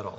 Good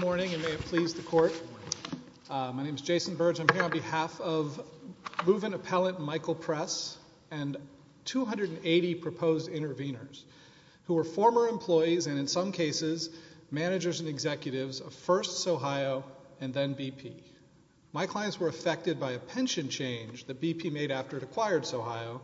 morning and may it please the Court. I'm here on behalf of Reuven Appellant Michael Press and 280 proposed intervenors who were former employees and in some cases managers and executives of first Sohio and then BP. My clients were affected by a pension change that BP made after it acquired Sohio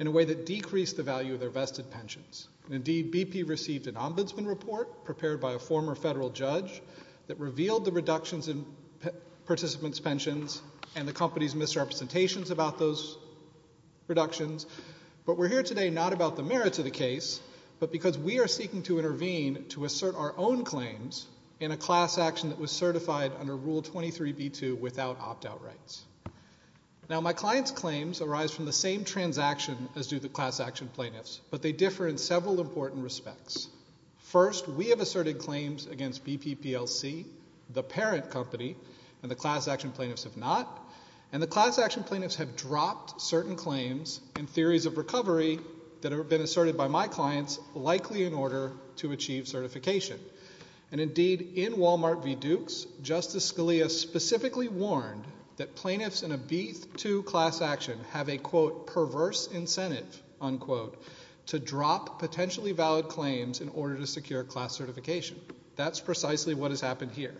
in a way that decreased the value of their vested pensions. Indeed, BP received an ombudsman report prepared by a former federal judge that revealed the reductions in participants' pensions and the company's misrepresentations about those reductions, but we're here today not about the merits of the case, but because we are seeking to intervene to assert our own claims in a class action that was certified under Rule 23b-2 without opt-out rights. Now my clients' claims arise from the same transaction as do the class action plaintiffs, but they differ in several important respects. First, we have asserted claims against BP PLC, the parent company, and the class action plaintiffs have not, and the class action plaintiffs have dropped certain claims and theories of recovery that have been asserted by my clients likely in order to achieve certification. And indeed, in Walmart v. Dukes, Justice Scalia specifically warned that plaintiffs in a B-2 class action have a, quote, perverse incentive, unquote, to drop potentially valid claims in order to secure class certification. That's precisely what has happened here.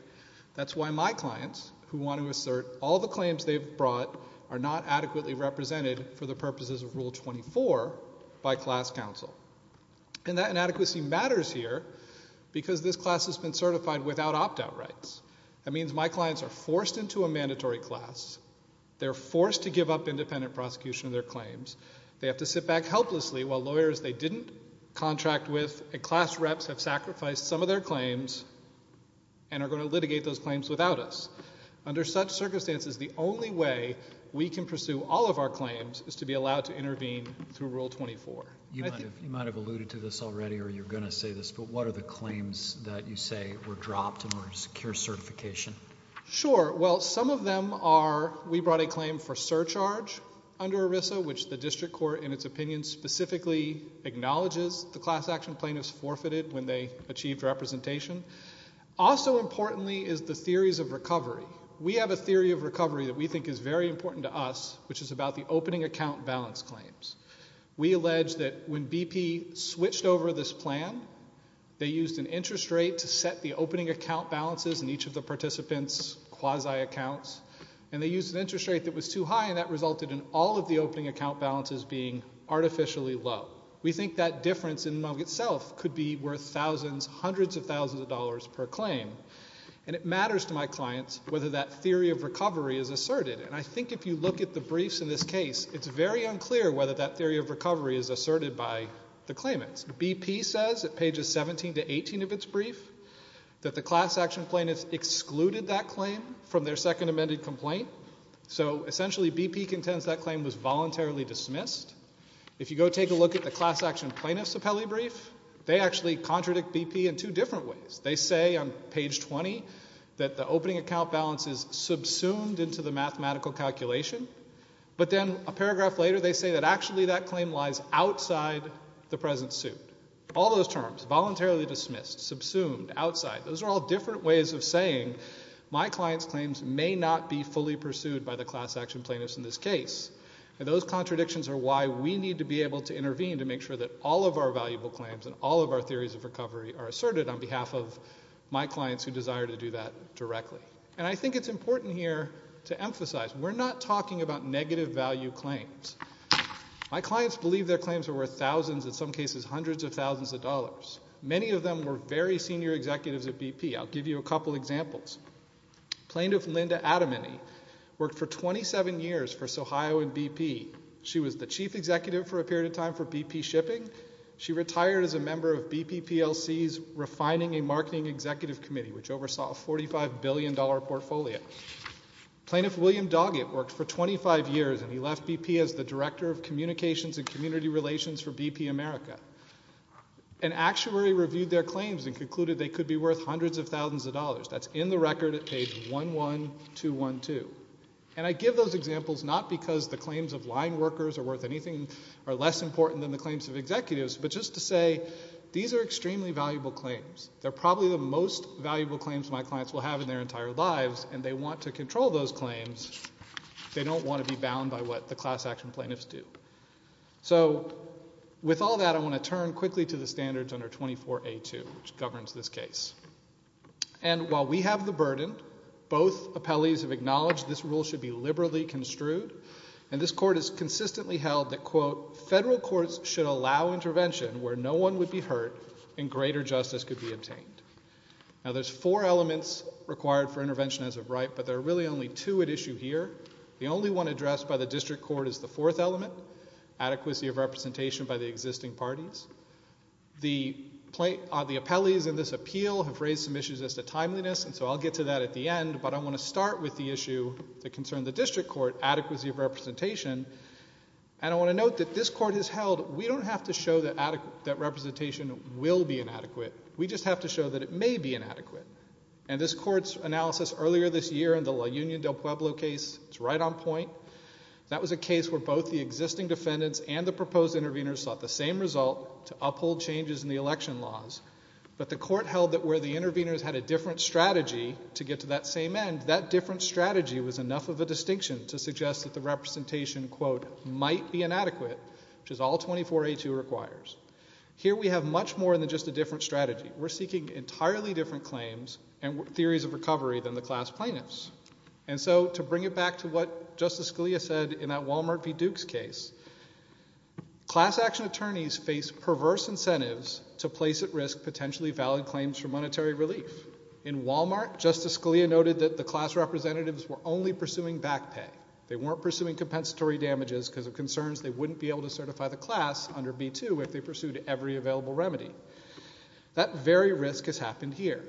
That's why my clients, who want to assert all the claims they've brought, are not adequately represented for the purposes of Rule 24 by class counsel. And that inadequacy matters here because this class has been certified without opt-out rights. That means my clients are forced into a mandatory class. They're forced to give up independent prosecution of their claims. They have to sit back helplessly while lawyers they didn't contract with and class reps have sacrificed some of their claims and are going to litigate those claims without us. Under such circumstances, the only way we can pursue all of our claims is to be allowed to intervene through Rule 24. You might have alluded to this already or you're going to say this, but what are the claims that you say were dropped and were secure certification? Sure. Well, some of them are, we brought a claim for surcharge under ERISA, which the district court, in its opinion, specifically acknowledges the class action plaintiffs forfeited when they achieved representation. Also importantly is the theories of recovery. We have a theory of recovery that we think is very important to us, which is about the opening account balance claims. We allege that when BP switched over this plan, they used an interest rate to set the ASI accounts and they used an interest rate that was too high and that resulted in all of the opening account balances being artificially low. We think that difference in itself could be worth thousands, hundreds of thousands of dollars per claim. And it matters to my clients whether that theory of recovery is asserted. And I think if you look at the briefs in this case, it's very unclear whether that theory of recovery is asserted by the claimants. BP says at pages 17 to 18 of its brief that the class action plaintiffs excluded that from their second amended complaint. So essentially BP contends that claim was voluntarily dismissed. If you go take a look at the class action plaintiffs' appellee brief, they actually contradict BP in two different ways. They say on page 20 that the opening account balance is subsumed into the mathematical calculation. But then a paragraph later they say that actually that claim lies outside the present suit. All those terms, voluntarily dismissed, subsumed, outside, those are all different ways of saying my client's claims may not be fully pursued by the class action plaintiffs in this case. Those contradictions are why we need to be able to intervene to make sure that all of our valuable claims and all of our theories of recovery are asserted on behalf of my clients who desire to do that directly. And I think it's important here to emphasize we're not talking about negative value claims. My clients believe their claims are worth thousands, in some cases hundreds of thousands of dollars. Many of them were very senior executives at BP. I'll give you a couple examples. Plaintiff Linda Adamany worked for 27 years for Sohio and BP. She was the chief executive for a period of time for BP Shipping. She retired as a member of BP PLC's Refining and Marketing Executive Committee, which oversaw a $45 billion portfolio. Plaintiff William Doggett worked for 25 years and he left BP as the Director of Communications and Community Relations for BP America. An actuary reviewed their claims and concluded they could be worth hundreds of thousands of dollars. That's in the record at page 11212. And I give those examples not because the claims of line workers are worth anything or less important than the claims of executives, but just to say these are extremely valuable claims. They're probably the most valuable claims my clients will have in their entire lives and they want to control those claims. They don't want to be bound by what the class action plaintiffs do. So, with all that, I want to turn quickly to the standards under 24A2, which governs this case. And while we have the burden, both appellees have acknowledged this rule should be liberally construed and this court has consistently held that, quote, federal courts should allow intervention where no one would be hurt and greater justice could be obtained. Now there's four elements required for intervention as of right, but there are really only two at issue here. The only one addressed by the district court is the fourth element, adequacy of representation by the existing parties. The appellees in this appeal have raised some issues as to timeliness, and so I'll get to that at the end. But I want to start with the issue that concerned the district court, adequacy of representation. And I want to note that this court has held we don't have to show that representation will be inadequate. We just have to show that it may be inadequate. And this court's analysis earlier this year in the La Union del Pueblo case, it's right on point. That was a case where both the existing defendants and the proposed intervenors sought the same result to uphold changes in the election laws, but the court held that where the intervenors had a different strategy to get to that same end, that different strategy was enough of a distinction to suggest that the representation, quote, might be inadequate, which is all 24A2 requires. Here we have much more than just a different strategy. We're seeking entirely different claims and theories of recovery than the class plaintiffs. And so to bring it back to what Justice Scalia said in that Walmart v. Dukes case, class action attorneys face perverse incentives to place at risk potentially valid claims for monetary relief. In Walmart, Justice Scalia noted that the class representatives were only pursuing back pay. They weren't pursuing compensatory damages because of concerns they wouldn't be able to certify the class under B2 if they pursued every available remedy. That very risk has happened here.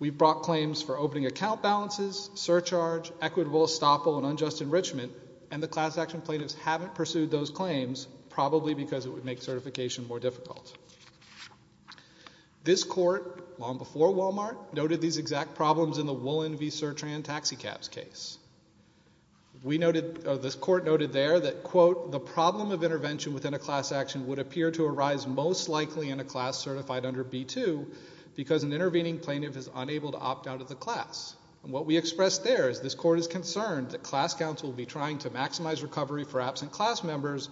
We brought claims for opening account balances, surcharge, equitable estoppel, and unjust enrichment, and the class action plaintiffs haven't pursued those claims, probably because it would make certification more difficult. This court, long before Walmart, noted these exact problems in the Woolen v. Sertran taxicabs case. We noted, this court noted there that, quote, the problem of intervention within a class action would appear to arise most likely in a class certified under B2 because an intervening plaintiff is unable to opt out of the class. And what we expressed there is this court is concerned that class counsel will be trying to maximize recovery for absent class members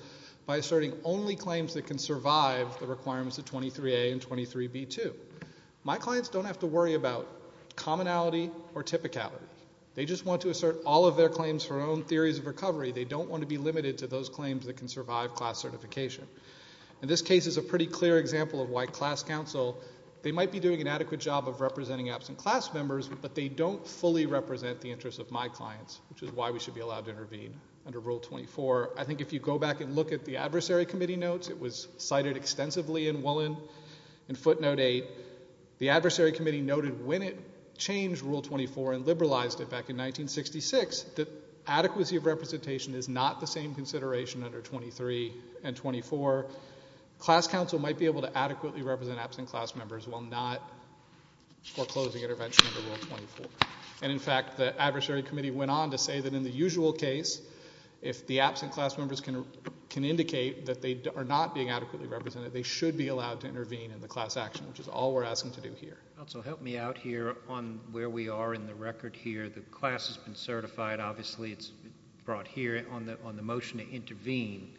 by asserting only claims that can survive the requirements of 23A and 23B2. My clients don't have to worry about commonality or typicality. They just want to assert all of their claims for their own theories of recovery. They don't want to be limited to those claims that can survive class certification. And this case is a pretty clear example of why class counsel, they might be doing an adequate job of representing absent class members, but they don't fully represent the interests of my clients, which is why we should be allowed to intervene under Rule 24. I think if you go back and look at the adversary committee notes, it was cited extensively in Woolen in footnote 8. The adversary committee noted when it changed Rule 24 and liberalized it back in 1966, that if adequacy of representation is not the same consideration under 23 and 24, class counsel might be able to adequately represent absent class members while not foreclosing intervention under Rule 24. And in fact, the adversary committee went on to say that in the usual case, if the absent class members can indicate that they are not being adequately represented, they should be allowed to intervene in the class action, which is all we're asking to do here. Also help me out here on where we are in the record here. The class has been certified, obviously it's brought here on the motion to intervene.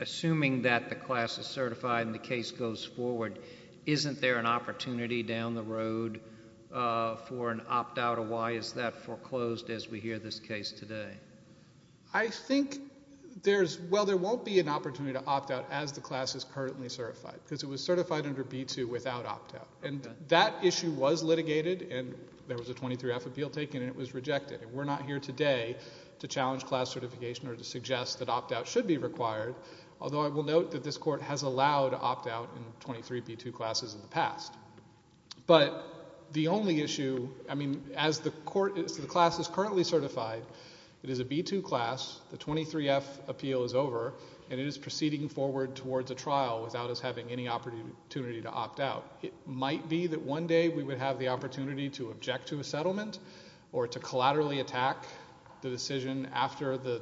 Assuming that the class is certified and the case goes forward, isn't there an opportunity down the road for an opt-out or why is that foreclosed as we hear this case today? I think there's... well, there won't be an opportunity to opt-out as the class is currently certified, because it was certified under B-2 without opt-out. And that issue was litigated and there was a 23-F appeal taken and it was rejected. And we're not here today to challenge class certification or to suggest that opt-out should be required, although I will note that this court has allowed opt-out in 23-B-2 classes in the past. But the only issue, I mean, as the class is currently certified, it is a B-2 class, the 23-F appeal is over, and it is proceeding forward towards a trial without us having any opportunity to opt-out. It might be that one day we would have the opportunity to object to a settlement or to collaterally attack the decision after the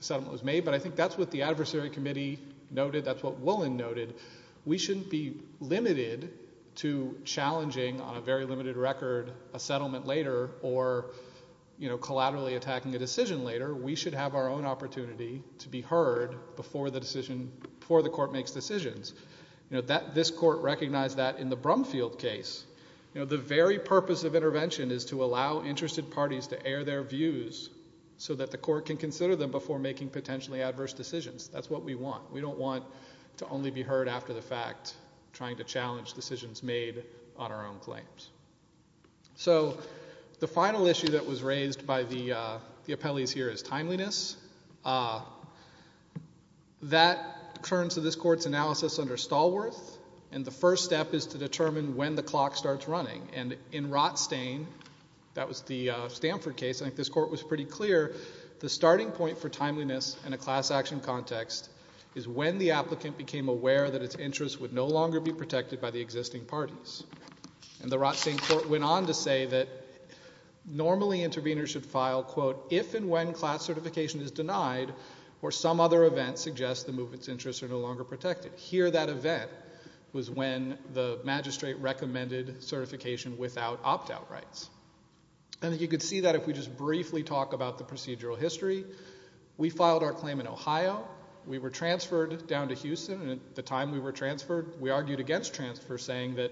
settlement was made, but I think that's what the Adversary Committee noted, that's what Woolen noted. We shouldn't be limited to challenging, on a very limited record, a settlement later or, you know, collaterally attacking a decision later. We should have our own opportunity to be heard before the decision... before the court makes decisions. You know, this court recognized that in the Brumfield case. You know, the very purpose of intervention is to allow interested parties to air their views so that the court can consider them before making potentially adverse decisions. That's what we want. We don't want to only be heard after the fact, trying to challenge decisions made on our own claims. So the final issue that was raised by the appellees here is timeliness. That turns to this court's analysis under Stallworth, and the first step is to determine when the clock starts running. And in Rotstein, that was the Stanford case, I think this court was pretty clear, the starting point for timeliness in a class action context is when the applicant became aware that its interest would no longer be protected by the existing parties. And the Rotstein court went on to say that normally interveners should file, quote, if and when class certification is denied or some other event suggests the movement's interests are no longer protected. Here that event was when the magistrate recommended certification without opt-out rights. And you could see that if we just briefly talk about the procedural history. We filed our claim in Ohio. We were transferred down to Houston, and at the time we were transferred, we argued against transfer saying that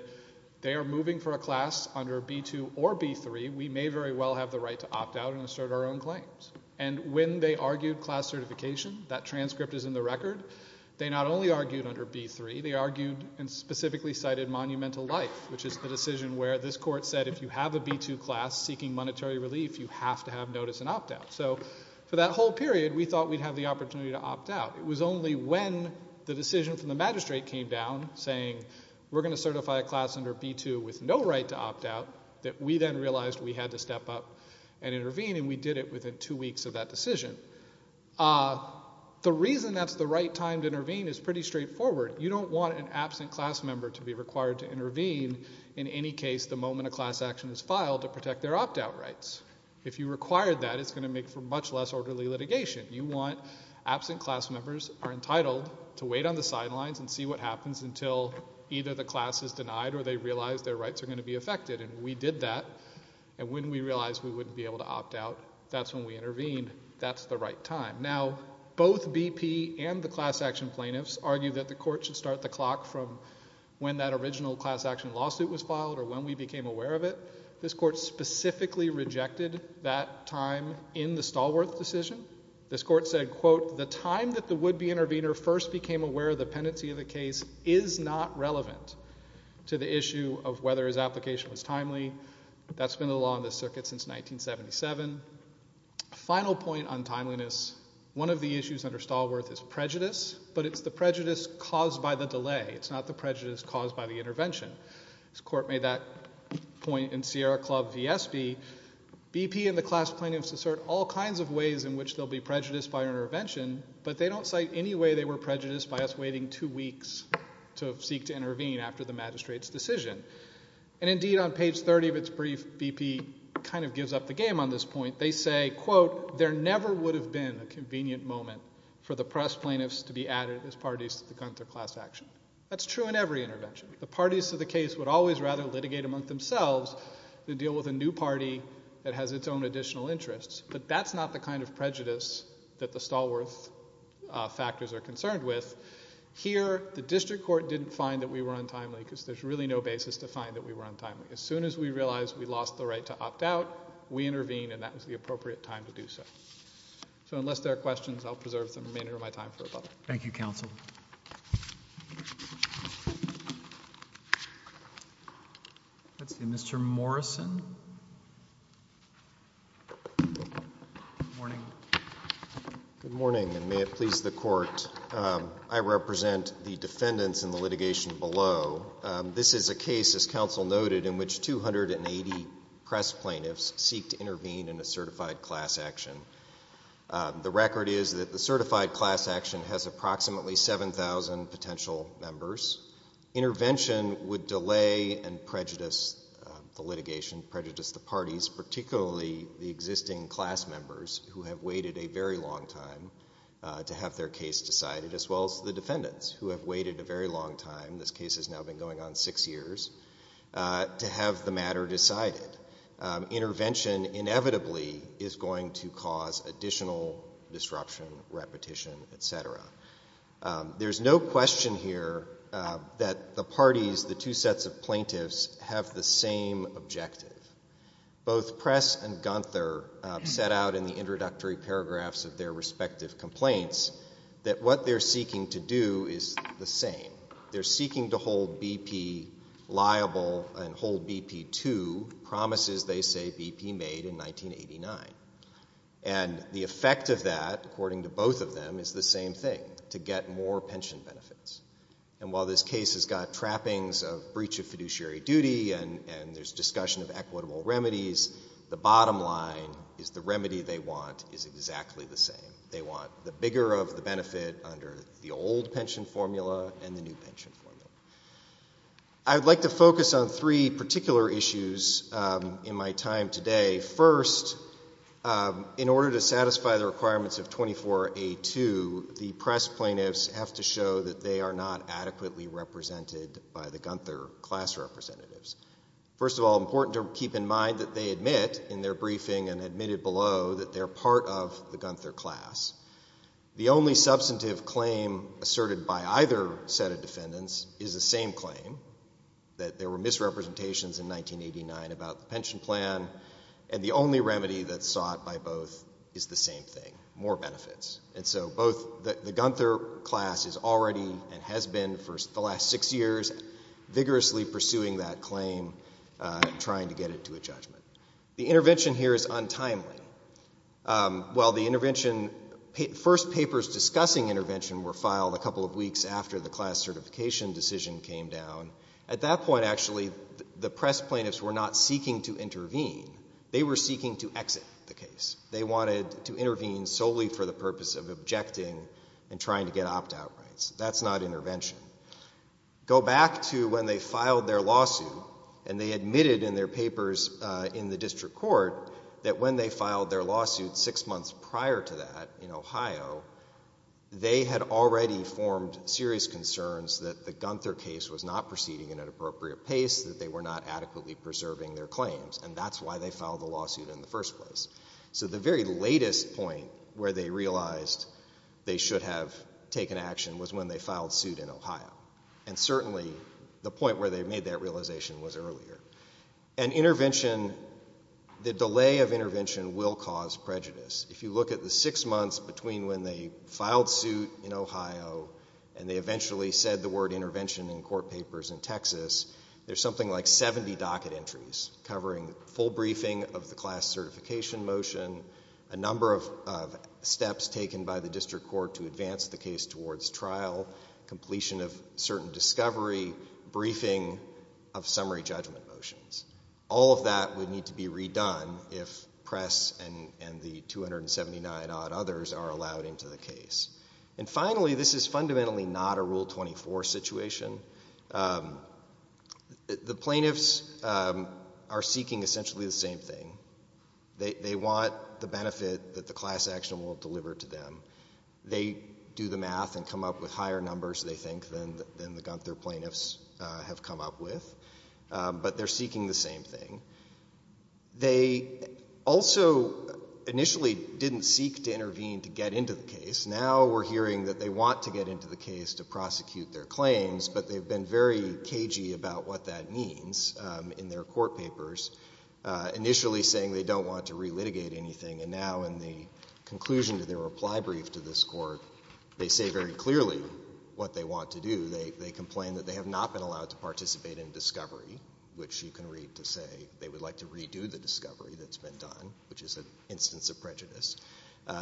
they are moving for a class under B2 or B3. We may very well have the right to opt-out and assert our own claims. And when they argued class certification, that transcript is in the record, they not only argued under B3, they argued and specifically cited monumental life, which is the decision where this court said if you have a B2 class seeking monetary relief, you have to have notice and opt-out. So for that whole period, we thought we'd have the opportunity to opt-out. It was only when the decision from the magistrate came down saying we're going to certify a we had to step up and intervene, and we did it within two weeks of that decision. The reason that's the right time to intervene is pretty straightforward. You don't want an absent class member to be required to intervene in any case the moment a class action is filed to protect their opt-out rights. If you require that, it's going to make for much less orderly litigation. You want absent class members are entitled to wait on the sidelines and see what happens until either the class is denied or they realize their rights are going to be affected. And we did that. And when we realized we wouldn't be able to opt-out, that's when we intervened. That's the right time. Now, both BP and the class action plaintiffs argued that the court should start the clock from when that original class action lawsuit was filed or when we became aware of it. This court specifically rejected that time in the Stallworth decision. This court said, quote, the time that the would-be intervener first became aware of is not relevant to the issue of whether his application was timely. That's been the law in this circuit since 1977. Final point on timeliness. One of the issues under Stallworth is prejudice, but it's the prejudice caused by the delay. It's not the prejudice caused by the intervention. This court made that point in Sierra Club v. Espy. BP and the class plaintiffs assert all kinds of ways in which they'll be prejudiced by waiting two weeks to seek to intervene after the magistrate's decision. And indeed, on page 30 of its brief, BP kind of gives up the game on this point. They say, quote, there never would have been a convenient moment for the press plaintiffs to be added as parties to the Gunther class action. That's true in every intervention. The parties to the case would always rather litigate among themselves than deal with a new party that has its own additional interests. But that's not the kind of prejudice that the Stallworth factors are concerned with. Here, the district court didn't find that we were untimely, because there's really no basis to find that we were untimely. As soon as we realized we lost the right to opt out, we intervened, and that was the appropriate time to do so. So unless there are questions, I'll preserve the remainder of my time for a moment. Thank you, counsel. Let's see. Mr. Morrison? Morning. Good morning, and may it please the court. I represent the defendants in the litigation below. This is a case, as counsel noted, in which 280 press plaintiffs seek to intervene in a certified class action. The record is that the certified class action has approximately 7,000 potential members. Intervention would delay and prejudice the litigation, prejudice the parties, particularly the existing class members who have waited a very long time to have their case decided, as well as the defendants who have waited a very long time, this case has now been going on six years, to have the matter decided. Intervention inevitably is going to cause additional disruption, repetition, et cetera. There's no question here that the parties, the two sets of plaintiffs, have the same objective. Both Press and Gunther set out in the introductory paragraphs of their respective complaints that what they're seeking to do is the same. They're seeking to hold BP liable and hold BP to promises they say BP made in 1989. And the effect of that, according to both of them, is the same thing, to get more pension benefits. And while this case has got trappings of breach of fiduciary duty and there's discussion of equitable remedies, the bottom line is the remedy they want is exactly the same. They want the bigger of the benefit under the old pension formula and the new pension formula. I'd like to focus on three particular issues in my time today. First, in order to satisfy the requirements of 24A2, the Press plaintiffs have to show that they are not adequately represented by the Gunther class representatives. First of all, important to keep in mind that they admit in their briefing and admitted below that they're part of the Gunther class. The only substantive claim asserted by either set of defendants is the same claim, that there were misrepresentations in 1989 about the pension plan, and the only remedy that's sought by both is the same thing, more benefits. And so both the Gunther class is already and has been for the last six years vigorously pursuing that claim and trying to get it to a judgment. The intervention here is untimely. While the intervention, first papers discussing intervention were filed a couple of weeks after the class certification decision came down, at that point actually the Press plaintiffs were not seeking to intervene. They were seeking to exit the case. They wanted to intervene solely for the purpose of objecting and trying to get opt-out rights. That's not intervention. Go back to when they filed their lawsuit and they admitted in their papers in the district court that when they filed their lawsuit six months prior to that in Ohio, they had already formed serious concerns that the Gunther case was not proceeding at an appropriate pace, that they were not adequately preserving their claims, and that's why they filed the lawsuit in the first place. So the very latest point where they realized they should have taken action was when they filed their lawsuit in Ohio. And certainly the point where they made that realization was earlier. And intervention, the delay of intervention will cause prejudice. If you look at the six months between when they filed suit in Ohio and they eventually said the word intervention in court papers in Texas, there's something like 70 docket entries covering full briefing of the class certification motion, a number of steps taken by the district court to advance the case towards trial, completion of certain discovery, briefing of summary judgment motions. All of that would need to be redone if Press and the 279-odd others are allowed into the case. And finally, this is fundamentally not a Rule 24 situation. The plaintiffs are seeking essentially the same thing. They want the benefit that the class action will deliver to them. They do the math and come up with higher numbers, they think, than the Gunther plaintiffs have come up with, but they're seeking the same thing. They also initially didn't seek to intervene to get into the case. Now we're hearing that they want to get into the case to prosecute their claims, but they've been very cagey about what that means in their court papers. Initially saying they don't want to relitigate anything, and now in the conclusion to their reply brief to this Court, they say very clearly what they want to do. They complain that they have not been allowed to participate in discovery, which you can read to say they would like to redo the discovery that's been done, which is an instance of prejudice.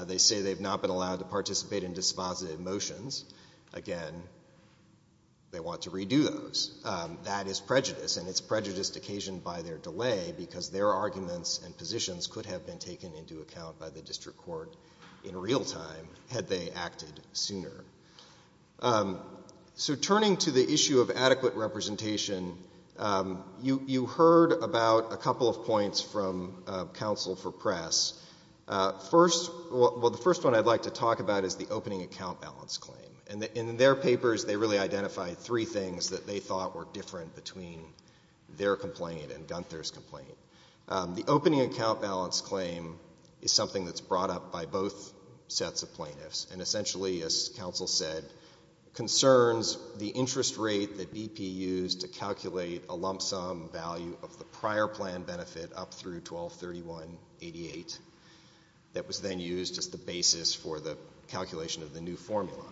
They say they've not been allowed to participate in dispositive motions. Again, they want to redo those. That is prejudice, and it's prejudiced occasion by their delay because their arguments and positions could have been taken into account by the district court in real time had they acted sooner. So turning to the issue of adequate representation, you heard about a couple of points from counsel for press. First, well, the first one I'd like to talk about is the opening account balance claim. And in their papers, they really identified three things that they thought were different between their complaint and Gunther's complaint. The opening account balance claim is something that's brought up by both sets of plaintiffs and essentially, as counsel said, concerns the interest rate that BP used to calculate a lump sum value of the prior plan benefit up through 1231-88 that was then used as the basis for the calculation of the new formula.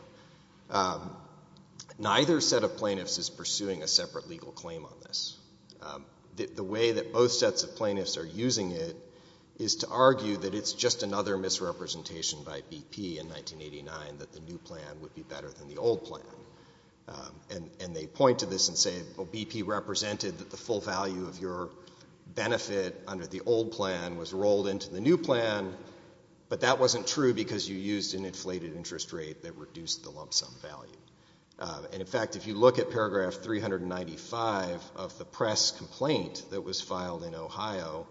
Neither set of plaintiffs is pursuing a separate legal claim on this. The way that both sets of plaintiffs are using it is to argue that it's just another misrepresentation by BP in 1989 that the new plan would be better than the old plan. And they point to this and say, well, BP represented that the full value of your benefit under the old plan was rolled into the new plan, but that wasn't true because you used an inflated interest rate that reduced the lump sum value. And in fact, if you look at paragraph 395 of the press complaint that was filed in Ohio,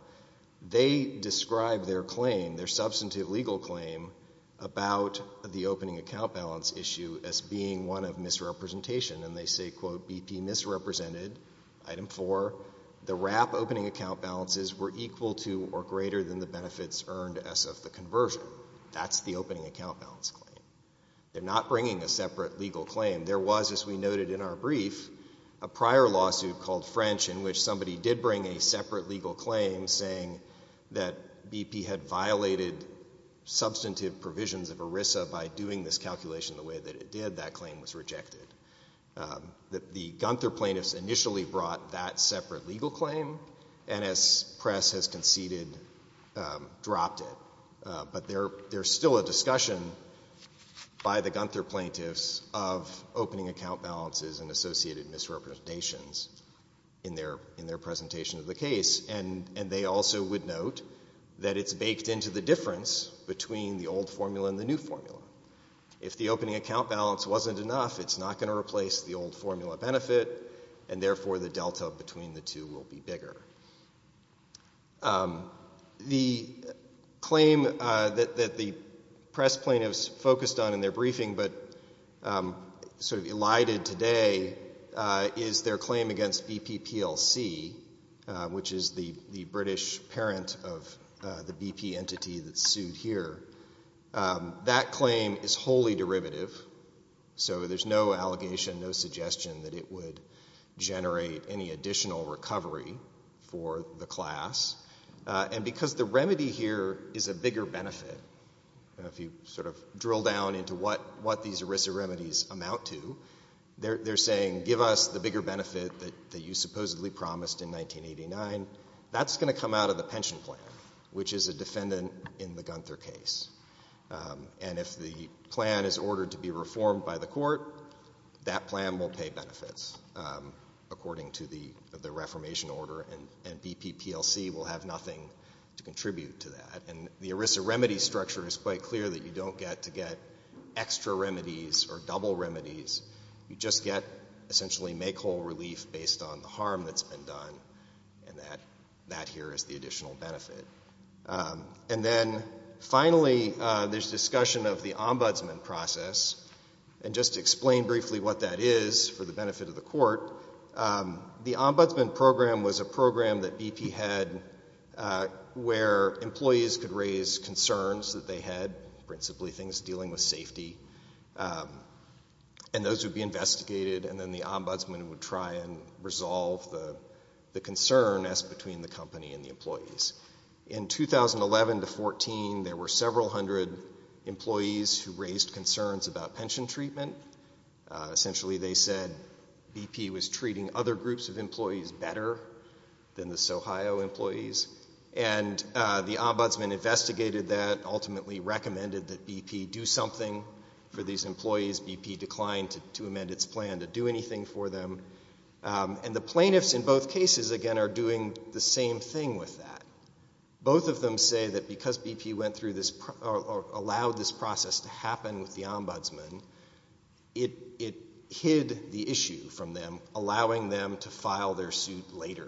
they describe their claim, their substantive legal claim about the opening account balance issue as being one of misrepresentation. And they say, quote, BP misrepresented, item four. The WRAP opening account balances were equal to or greater than the benefits earned as of the conversion. That's the opening account balance claim. They're not bringing a separate legal claim. There was, as we noted in our brief, a prior lawsuit called French in which somebody did bring a separate legal claim saying that BP had violated substantive provisions of ERISA by doing this calculation the way that it did. That claim was rejected. The Gunther plaintiffs initially brought that separate legal claim and as press has conceded, dropped it. But there's still a discussion by the Gunther plaintiffs of opening account balances and associated misrepresentations in their presentation of the case. And they also would note that it's baked into the difference between the old formula and the new formula. If the opening account balance wasn't enough, it's not going to replace the old formula benefit and therefore the delta between the two will be bigger. The claim that the press plaintiffs focused on in their briefing but sort of elided today is their claim against BP PLC, which is the British parent of the BP entity that's sued here. That claim is wholly derivative. So there's no allegation, no suggestion that it would generate any additional recovery for the class. And because the remedy here is a bigger benefit, if you sort of drill down into what these ERISA remedies amount to, they're saying give us the bigger benefit that you supposedly promised in 1989. That's going to come out of the pension plan, which is a defendant in the Gunther case. And if the plan is ordered to be reformed by the court, that plan will pay benefits according to the reformation order and BP PLC will have nothing to contribute to that. And the ERISA remedy structure is quite clear that you don't get to get extra remedies or double remedies. You just get essentially make whole relief based on the harm that's been done and that here is the additional benefit. And then finally, there's discussion of the ombudsman process. And just to explain briefly what that is for the benefit of the court, the ombudsman program was a program that BP had where employees could raise concerns that they had, principally things dealing with safety, and those would be investigated and then the ombudsman would try and resolve the concern asked between the company and the employees. In 2011 to 14, there were several hundred employees who raised concerns about pension treatment. Essentially, they said BP was treating other groups of employees better than the SoHo employees. And the ombudsman investigated that, ultimately recommended that BP do something for these employees. BP declined to amend its plan to do anything for them. And the plaintiffs in both cases, again, are doing the same thing with that. Both of them say that because BP went through this or allowed this process to happen with the ombudsman, it hid the issue from them, allowing them to file their suit later.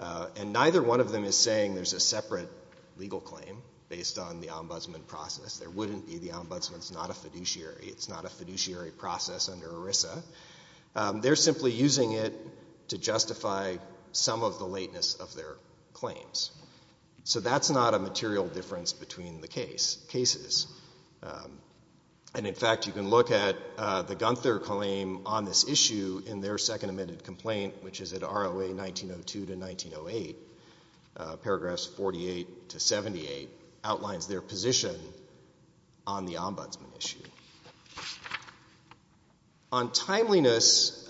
And neither one of them is saying there's a separate legal claim based on the ombudsman process. There wouldn't be. The ombudsman's not a fiduciary. It's not a fiduciary process under ERISA. They're simply using it to justify some of the lateness of their claims. So that's not a material difference between the cases. And in fact, you can look at the Gunther claim on this issue in their second amended complaint, which is at ROA 1902 to 1908, paragraphs 48 to 78, outlines their position on the ombudsman issue. On timeliness,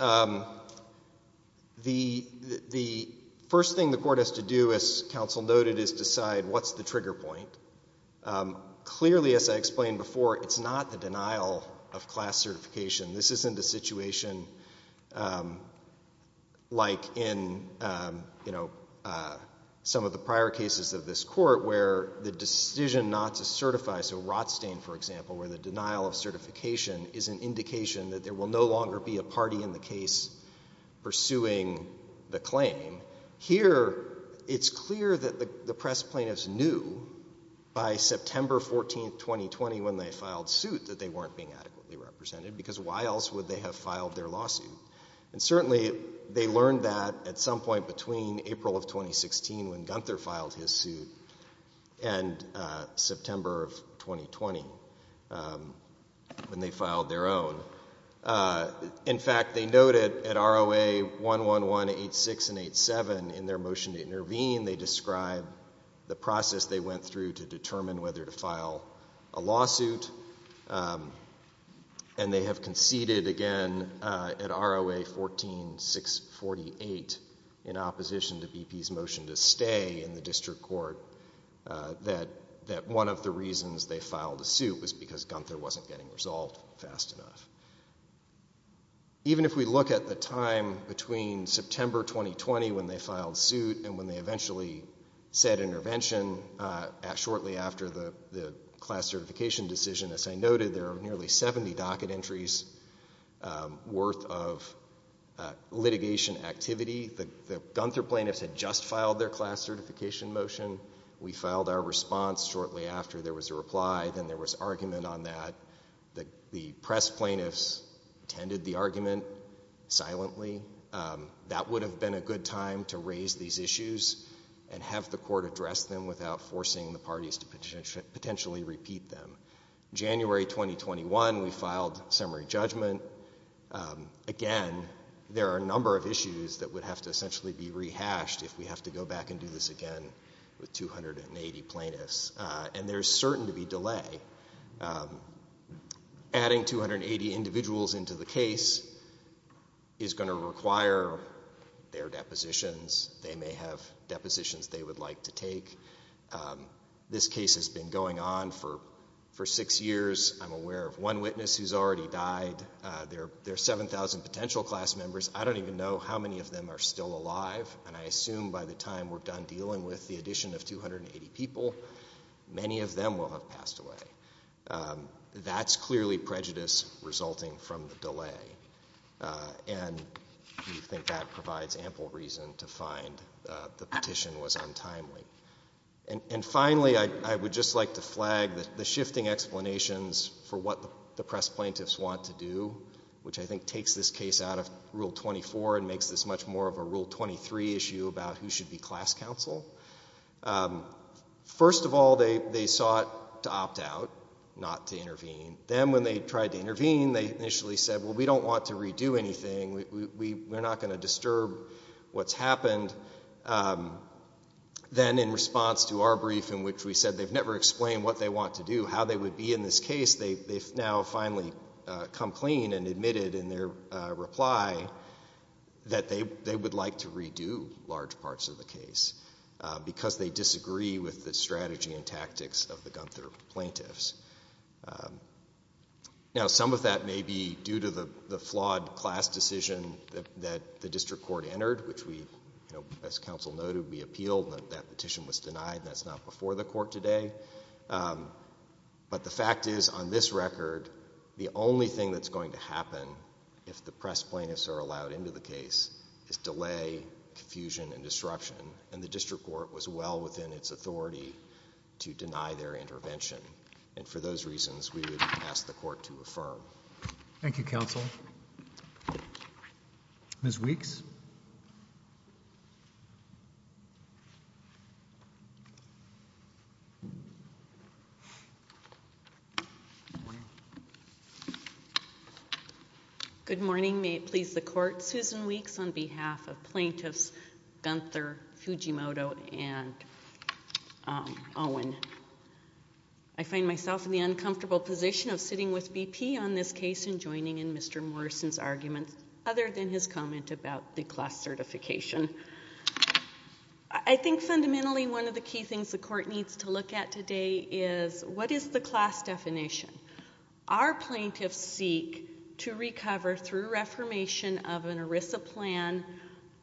the first thing the court has to do, as counsel noted, is decide what's the trigger point. Clearly, as I explained before, it's not the denial of class certification. This isn't a situation like in, you know, some of the prior cases of this court where the decision not to certify, so Rothstein, for example, where the denial of certification is an indication that there will no longer be a party in the case pursuing the claim. Here it's clear that the press plaintiffs knew by September 14, 2020, when they filed a suit, that they weren't being adequately represented, because why else would they have filed their lawsuit? And certainly, they learned that at some point between April of 2016, when Gunther filed his suit, and September of 2020, when they filed their own. In fact, they noted at ROA 111, 86 and 87 in their motion to intervene, they describe the process they went through to determine whether to file a lawsuit, and they have conceded again at ROA 14, 648, in opposition to BP's motion to stay in the district court, that one of the reasons they filed a suit was because Gunther wasn't getting resolved fast enough. Even if we look at the time between September 2020, when they filed suit, and when they eventually said intervention, shortly after the class certification decision, as I noted, there are nearly 70 docket entries worth of litigation activity. The Gunther plaintiffs had just filed their class certification motion. We filed our response shortly after there was a reply, then there was argument on that. The press plaintiffs tended the argument silently. That would have been a good time to raise these issues and have the court address them without forcing the parties to potentially repeat them. January 2021, we filed summary judgment. Again, there are a number of issues that would have to essentially be rehashed if we have to go back and do this again with 280 plaintiffs, and there's certain to be delay. Adding 280 individuals into the case is going to require their depositions. They may have depositions they would like to take. This case has been going on for six years. I'm aware of one witness who's already died. There are 7,000 potential class members. I don't even know how many of them are still alive, and I assume by the time we're done dealing with the addition of 280 people, many of them will have passed away. That's clearly prejudice resulting from the delay, and we think that provides ample reason to find the petition was untimely. And finally, I would just like to flag the shifting explanations for what the press plaintiffs want to do, which I think takes this case out of Rule 24 and makes this much more of a Rule 23 issue about who should be class counsel. First of all, they sought to opt out, not to intervene. Then, when they tried to intervene, they initially said, well, we don't want to redo anything. We're not going to disturb what's happened. Then, in response to our brief in which we said they've never explained what they want to do, how they would be in this case, they've now finally come clean and admitted in their reply that they would like to redo large parts of the case because they disagree with the strategy and tactics of the Gunther plaintiffs. Now, some of that may be due to the flawed class decision that the district court entered, which we, as counsel noted, we appealed, and that petition was denied, and that's not before the court today. But the fact is, on this record, the only thing that's going to happen if the press plaintiffs are allowed into the case is delay, confusion, and disruption, and the district court was well within its authority to deny their intervention. And for those reasons, we would ask the court to affirm. Thank you, counsel. Ms. Weeks? Good morning. May it please the court, Susan Weeks on behalf of plaintiffs Gunther, Fujimoto, and Owen. I find myself in the uncomfortable position of sitting with BP on this case and joining in Mr. Morrison's arguments other than his comment about the class certification. I think fundamentally one of the key things the court needs to look at today is what is the class definition? Our plaintiffs seek to recover through reformation of an ERISA plan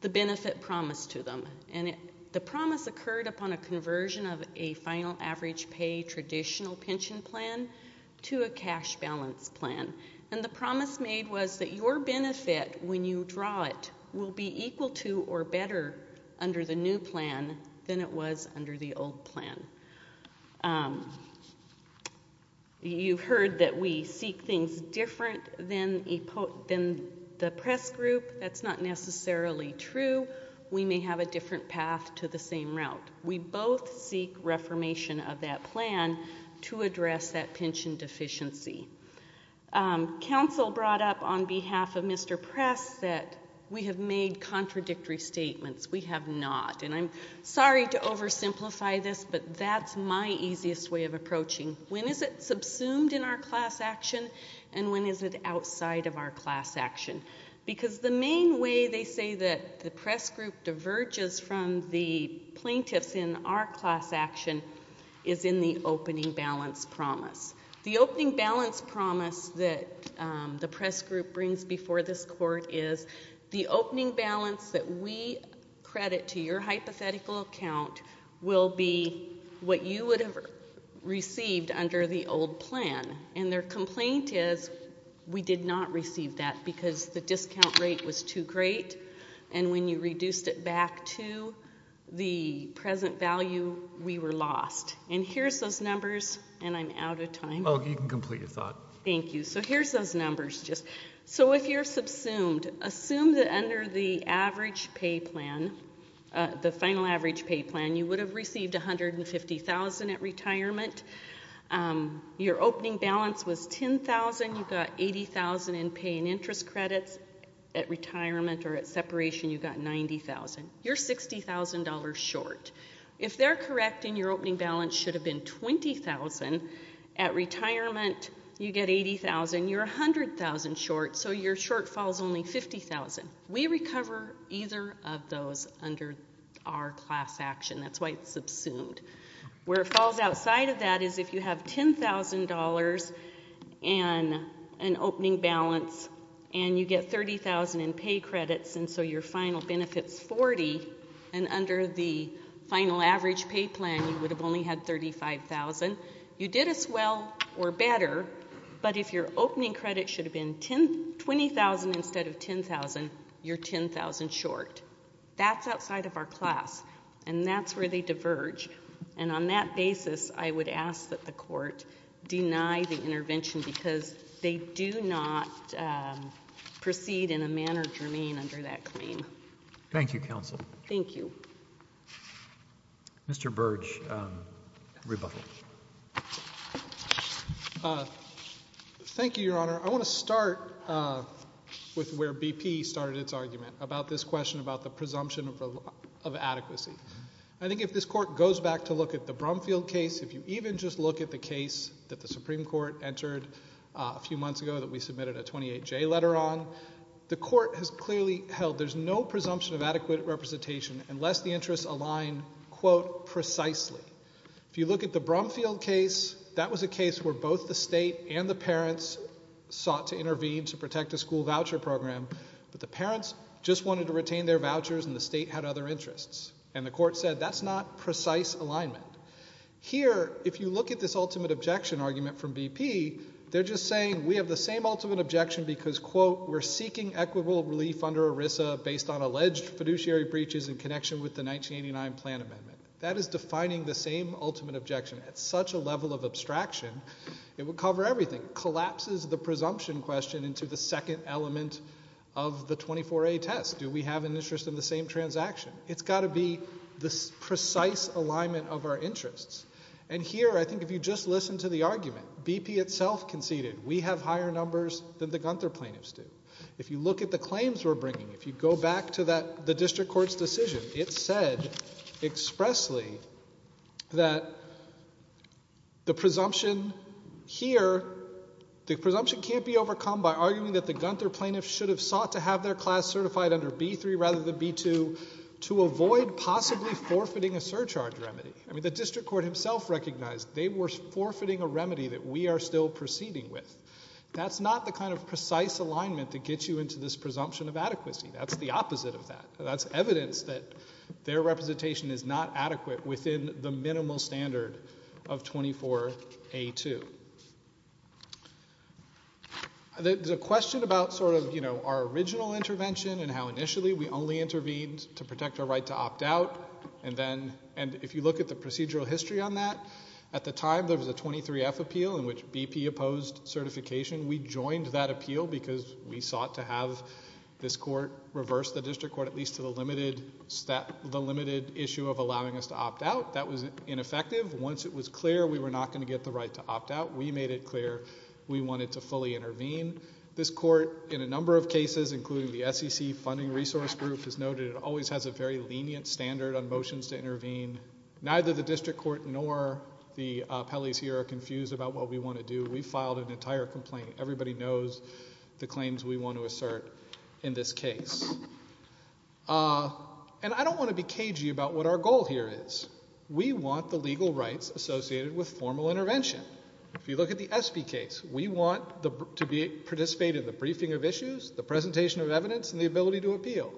the benefit promised to them, and the promise occurred upon a conversion of a final average pay traditional pension plan to a cash balance plan. And the promise made was that your benefit, when you draw it, will be equal to or better under the new plan than it was under the old plan. You've heard that we seek things different than the press group. That's not necessarily true. We may have a different path to the same route. We both seek reformation of that plan to address that pension deficiency. Counsel brought up on behalf of Mr. Press that we have made contradictory statements. We have not. And I'm sorry to oversimplify this, but that's my easiest way of approaching when is it subsumed in our class action and when is it outside of our class action? Because the main way they say that the press group diverges from the plaintiffs in our class action is in the opening balance promise. The opening balance promise that the press group brings before this court is the opening balance that we credit to your hypothetical account will be what you would have received under the old plan. And their complaint is we did not receive that because the discount rate was too great and when you reduced it back to the present value, we were lost. And here's those numbers. And I'm out of time. Oh, you can complete your thought. Thank you. So here's those numbers. So if you're subsumed, assume that under the average pay plan, the final average pay plan, you would have received $150,000 at retirement. Your opening balance was $10,000. You got $80,000 in pay and interest credits. At retirement or at separation, you got $90,000. You're $60,000 short. If they're correct and your opening balance should have been $20,000, at retirement, you get $80,000. You're $100,000 short, so your short falls only $50,000. We recover either of those under our class action. That's why it's subsumed. Where it falls outside of that is if you have $10,000 and an opening balance and you get $30,000 in pay credits, and so your final benefit's $40,000, and under the final average pay plan, you would have only had $35,000. You did as well or better, but if your opening credit should have been $20,000 instead of $10,000, you're $10,000 short. That's outside of our class, and that's where they diverge. And on that basis, I would ask that the court deny the intervention because they do not proceed in a manner germane under that claim. Thank you, counsel. Thank you. Mr. Burge, rebuttal. Thank you, Your Honor. I want to start with where BP started its argument about this question about the presumption of adequacy. I think if this court goes back to look at the Brumfield case, if you even just look at the case that the Supreme Court entered a few months ago that we submitted a 28J letter on, the court has clearly held there's no presumption of adequate representation unless the interests align, quote, precisely. If you look at the Brumfield case, that was a case where both the state and the parents sought to intervene to protect a school voucher program, but the parents just wanted to retain their vouchers and the state had other interests. And the court said that's not precise alignment. Here, if you look at this ultimate objection argument from BP, they're just saying we have the same ultimate objection because, quote, we're seeking equitable relief under ERISA based on alleged fiduciary breaches in connection with the 1989 plan amendment. That is defining the same ultimate objection. At such a level of abstraction, it would cover everything. It collapses the presumption question into the second element of the 24A test. Do we have an interest in the same transaction? It's got to be this precise alignment of our interests. And here, I think if you just listen to the argument, BP itself conceded we have higher numbers than the Gunther plaintiffs do. If you look at the claims we're bringing, if you go back to the district court's decision, it said expressly that the presumption here, the presumption can't be overcome by arguing that the Gunther plaintiffs should have sought to have their class certified under B3 rather than B2 to avoid possibly forfeiting a surcharge remedy. I mean, the district court himself recognized they were forfeiting a remedy that we are still proceeding with. That's not the kind of precise alignment that gets you into this presumption of adequacy. That's the opposite of that. That's evidence that their representation is not adequate within the minimal standard of 24A2. There's a question about sort of our original intervention and how initially we only intervened to protect our right to opt out. And if you look at the procedural history on that, at the time there was a 23F appeal in which BP opposed certification. We joined that appeal because we sought to have this court reverse the district court at least to the limited issue of allowing us to opt out. That was ineffective. Once it was clear we were not going to get the right to opt out, we made it clear we wanted to fully intervene. This court in a number of cases, including the SEC funding resource group, has noted it always has a very lenient standard on motions to intervene. Neither the district court nor the appellees here are confused about what we want to do. We filed an entire complaint. Everybody knows the claims we want to assert in this case. And I don't want to be cagey about what our goal here is. We want the legal rights associated with formal intervention. If you look at the Espy case, we want to participate in the briefing of issues, the presentation of evidence, and the ability to appeal.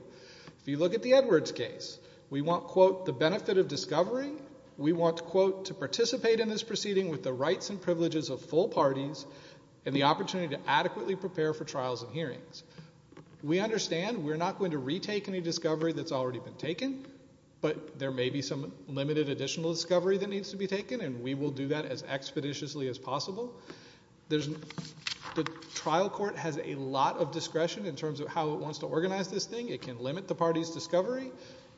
If you look at the Edwards case, we want, quote, the benefit of discovery. We want, quote, to participate in this proceeding with the rights and privileges of full parties and the opportunity to adequately prepare for trials and hearings. We understand we're not going to retake any discovery that's already been taken, but there may be some limited additional discovery that needs to be taken. And we will do that as expeditiously as possible. The trial court has a lot of discretion in terms of how it wants to organize this thing. It can limit the party's discovery.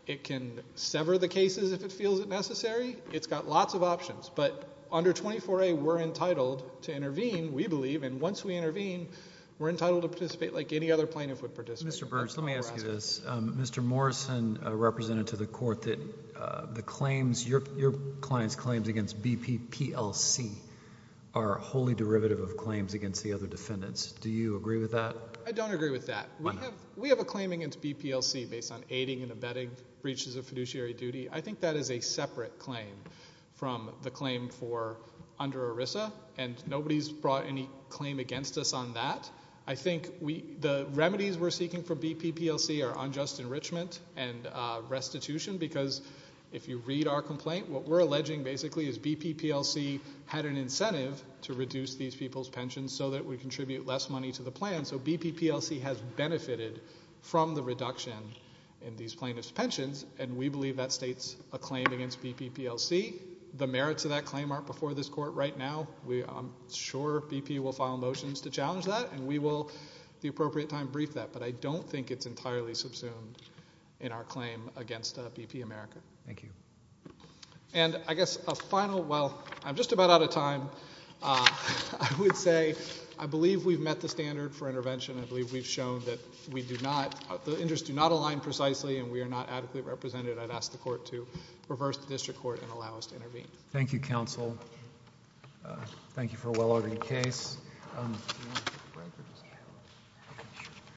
It can sever the cases if it feels it necessary. It's got lots of options. But under 24A, we're entitled to intervene, we believe. And once we intervene, we're entitled to participate like any other plaintiff would participate. Mr. Burch, let me ask you this. Mr. Morrison represented to the court that the claims, your client's claims against BP-PLC are wholly derivative of claims against the other defendants. Do you agree with that? I don't agree with that. We have a claim against BP-PLC based on aiding and abetting breaches of fiduciary duty. I think that is a separate claim from the claim for under ERISA, and nobody's brought any claim against us on that. I think the remedies we're seeking for BP-PLC are unjust enrichment and restitution because if you read our complaint, what we're alleging basically is BP-PLC had an incentive to reduce these people's pensions so that we contribute less money to the plan. So BP-PLC has benefited from the reduction in these plaintiffs' pensions, and we believe that states a claim against BP-PLC. The merits of that claim aren't before this court right now. I'm sure BP will file motions to challenge that, and we will at the appropriate time brief that, but I don't think it's entirely subsumed in our claim against BP-America. Thank you. And I guess a final, well, I'm just about out of time. I would say I believe we've met the standard for intervention. I believe we've shown that we do not, the interests do not align precisely, and we are not adequately represented. I'd ask the court to reverse the district court and allow us to intervene. Thank you, counsel. Thank you for a well-ordered case.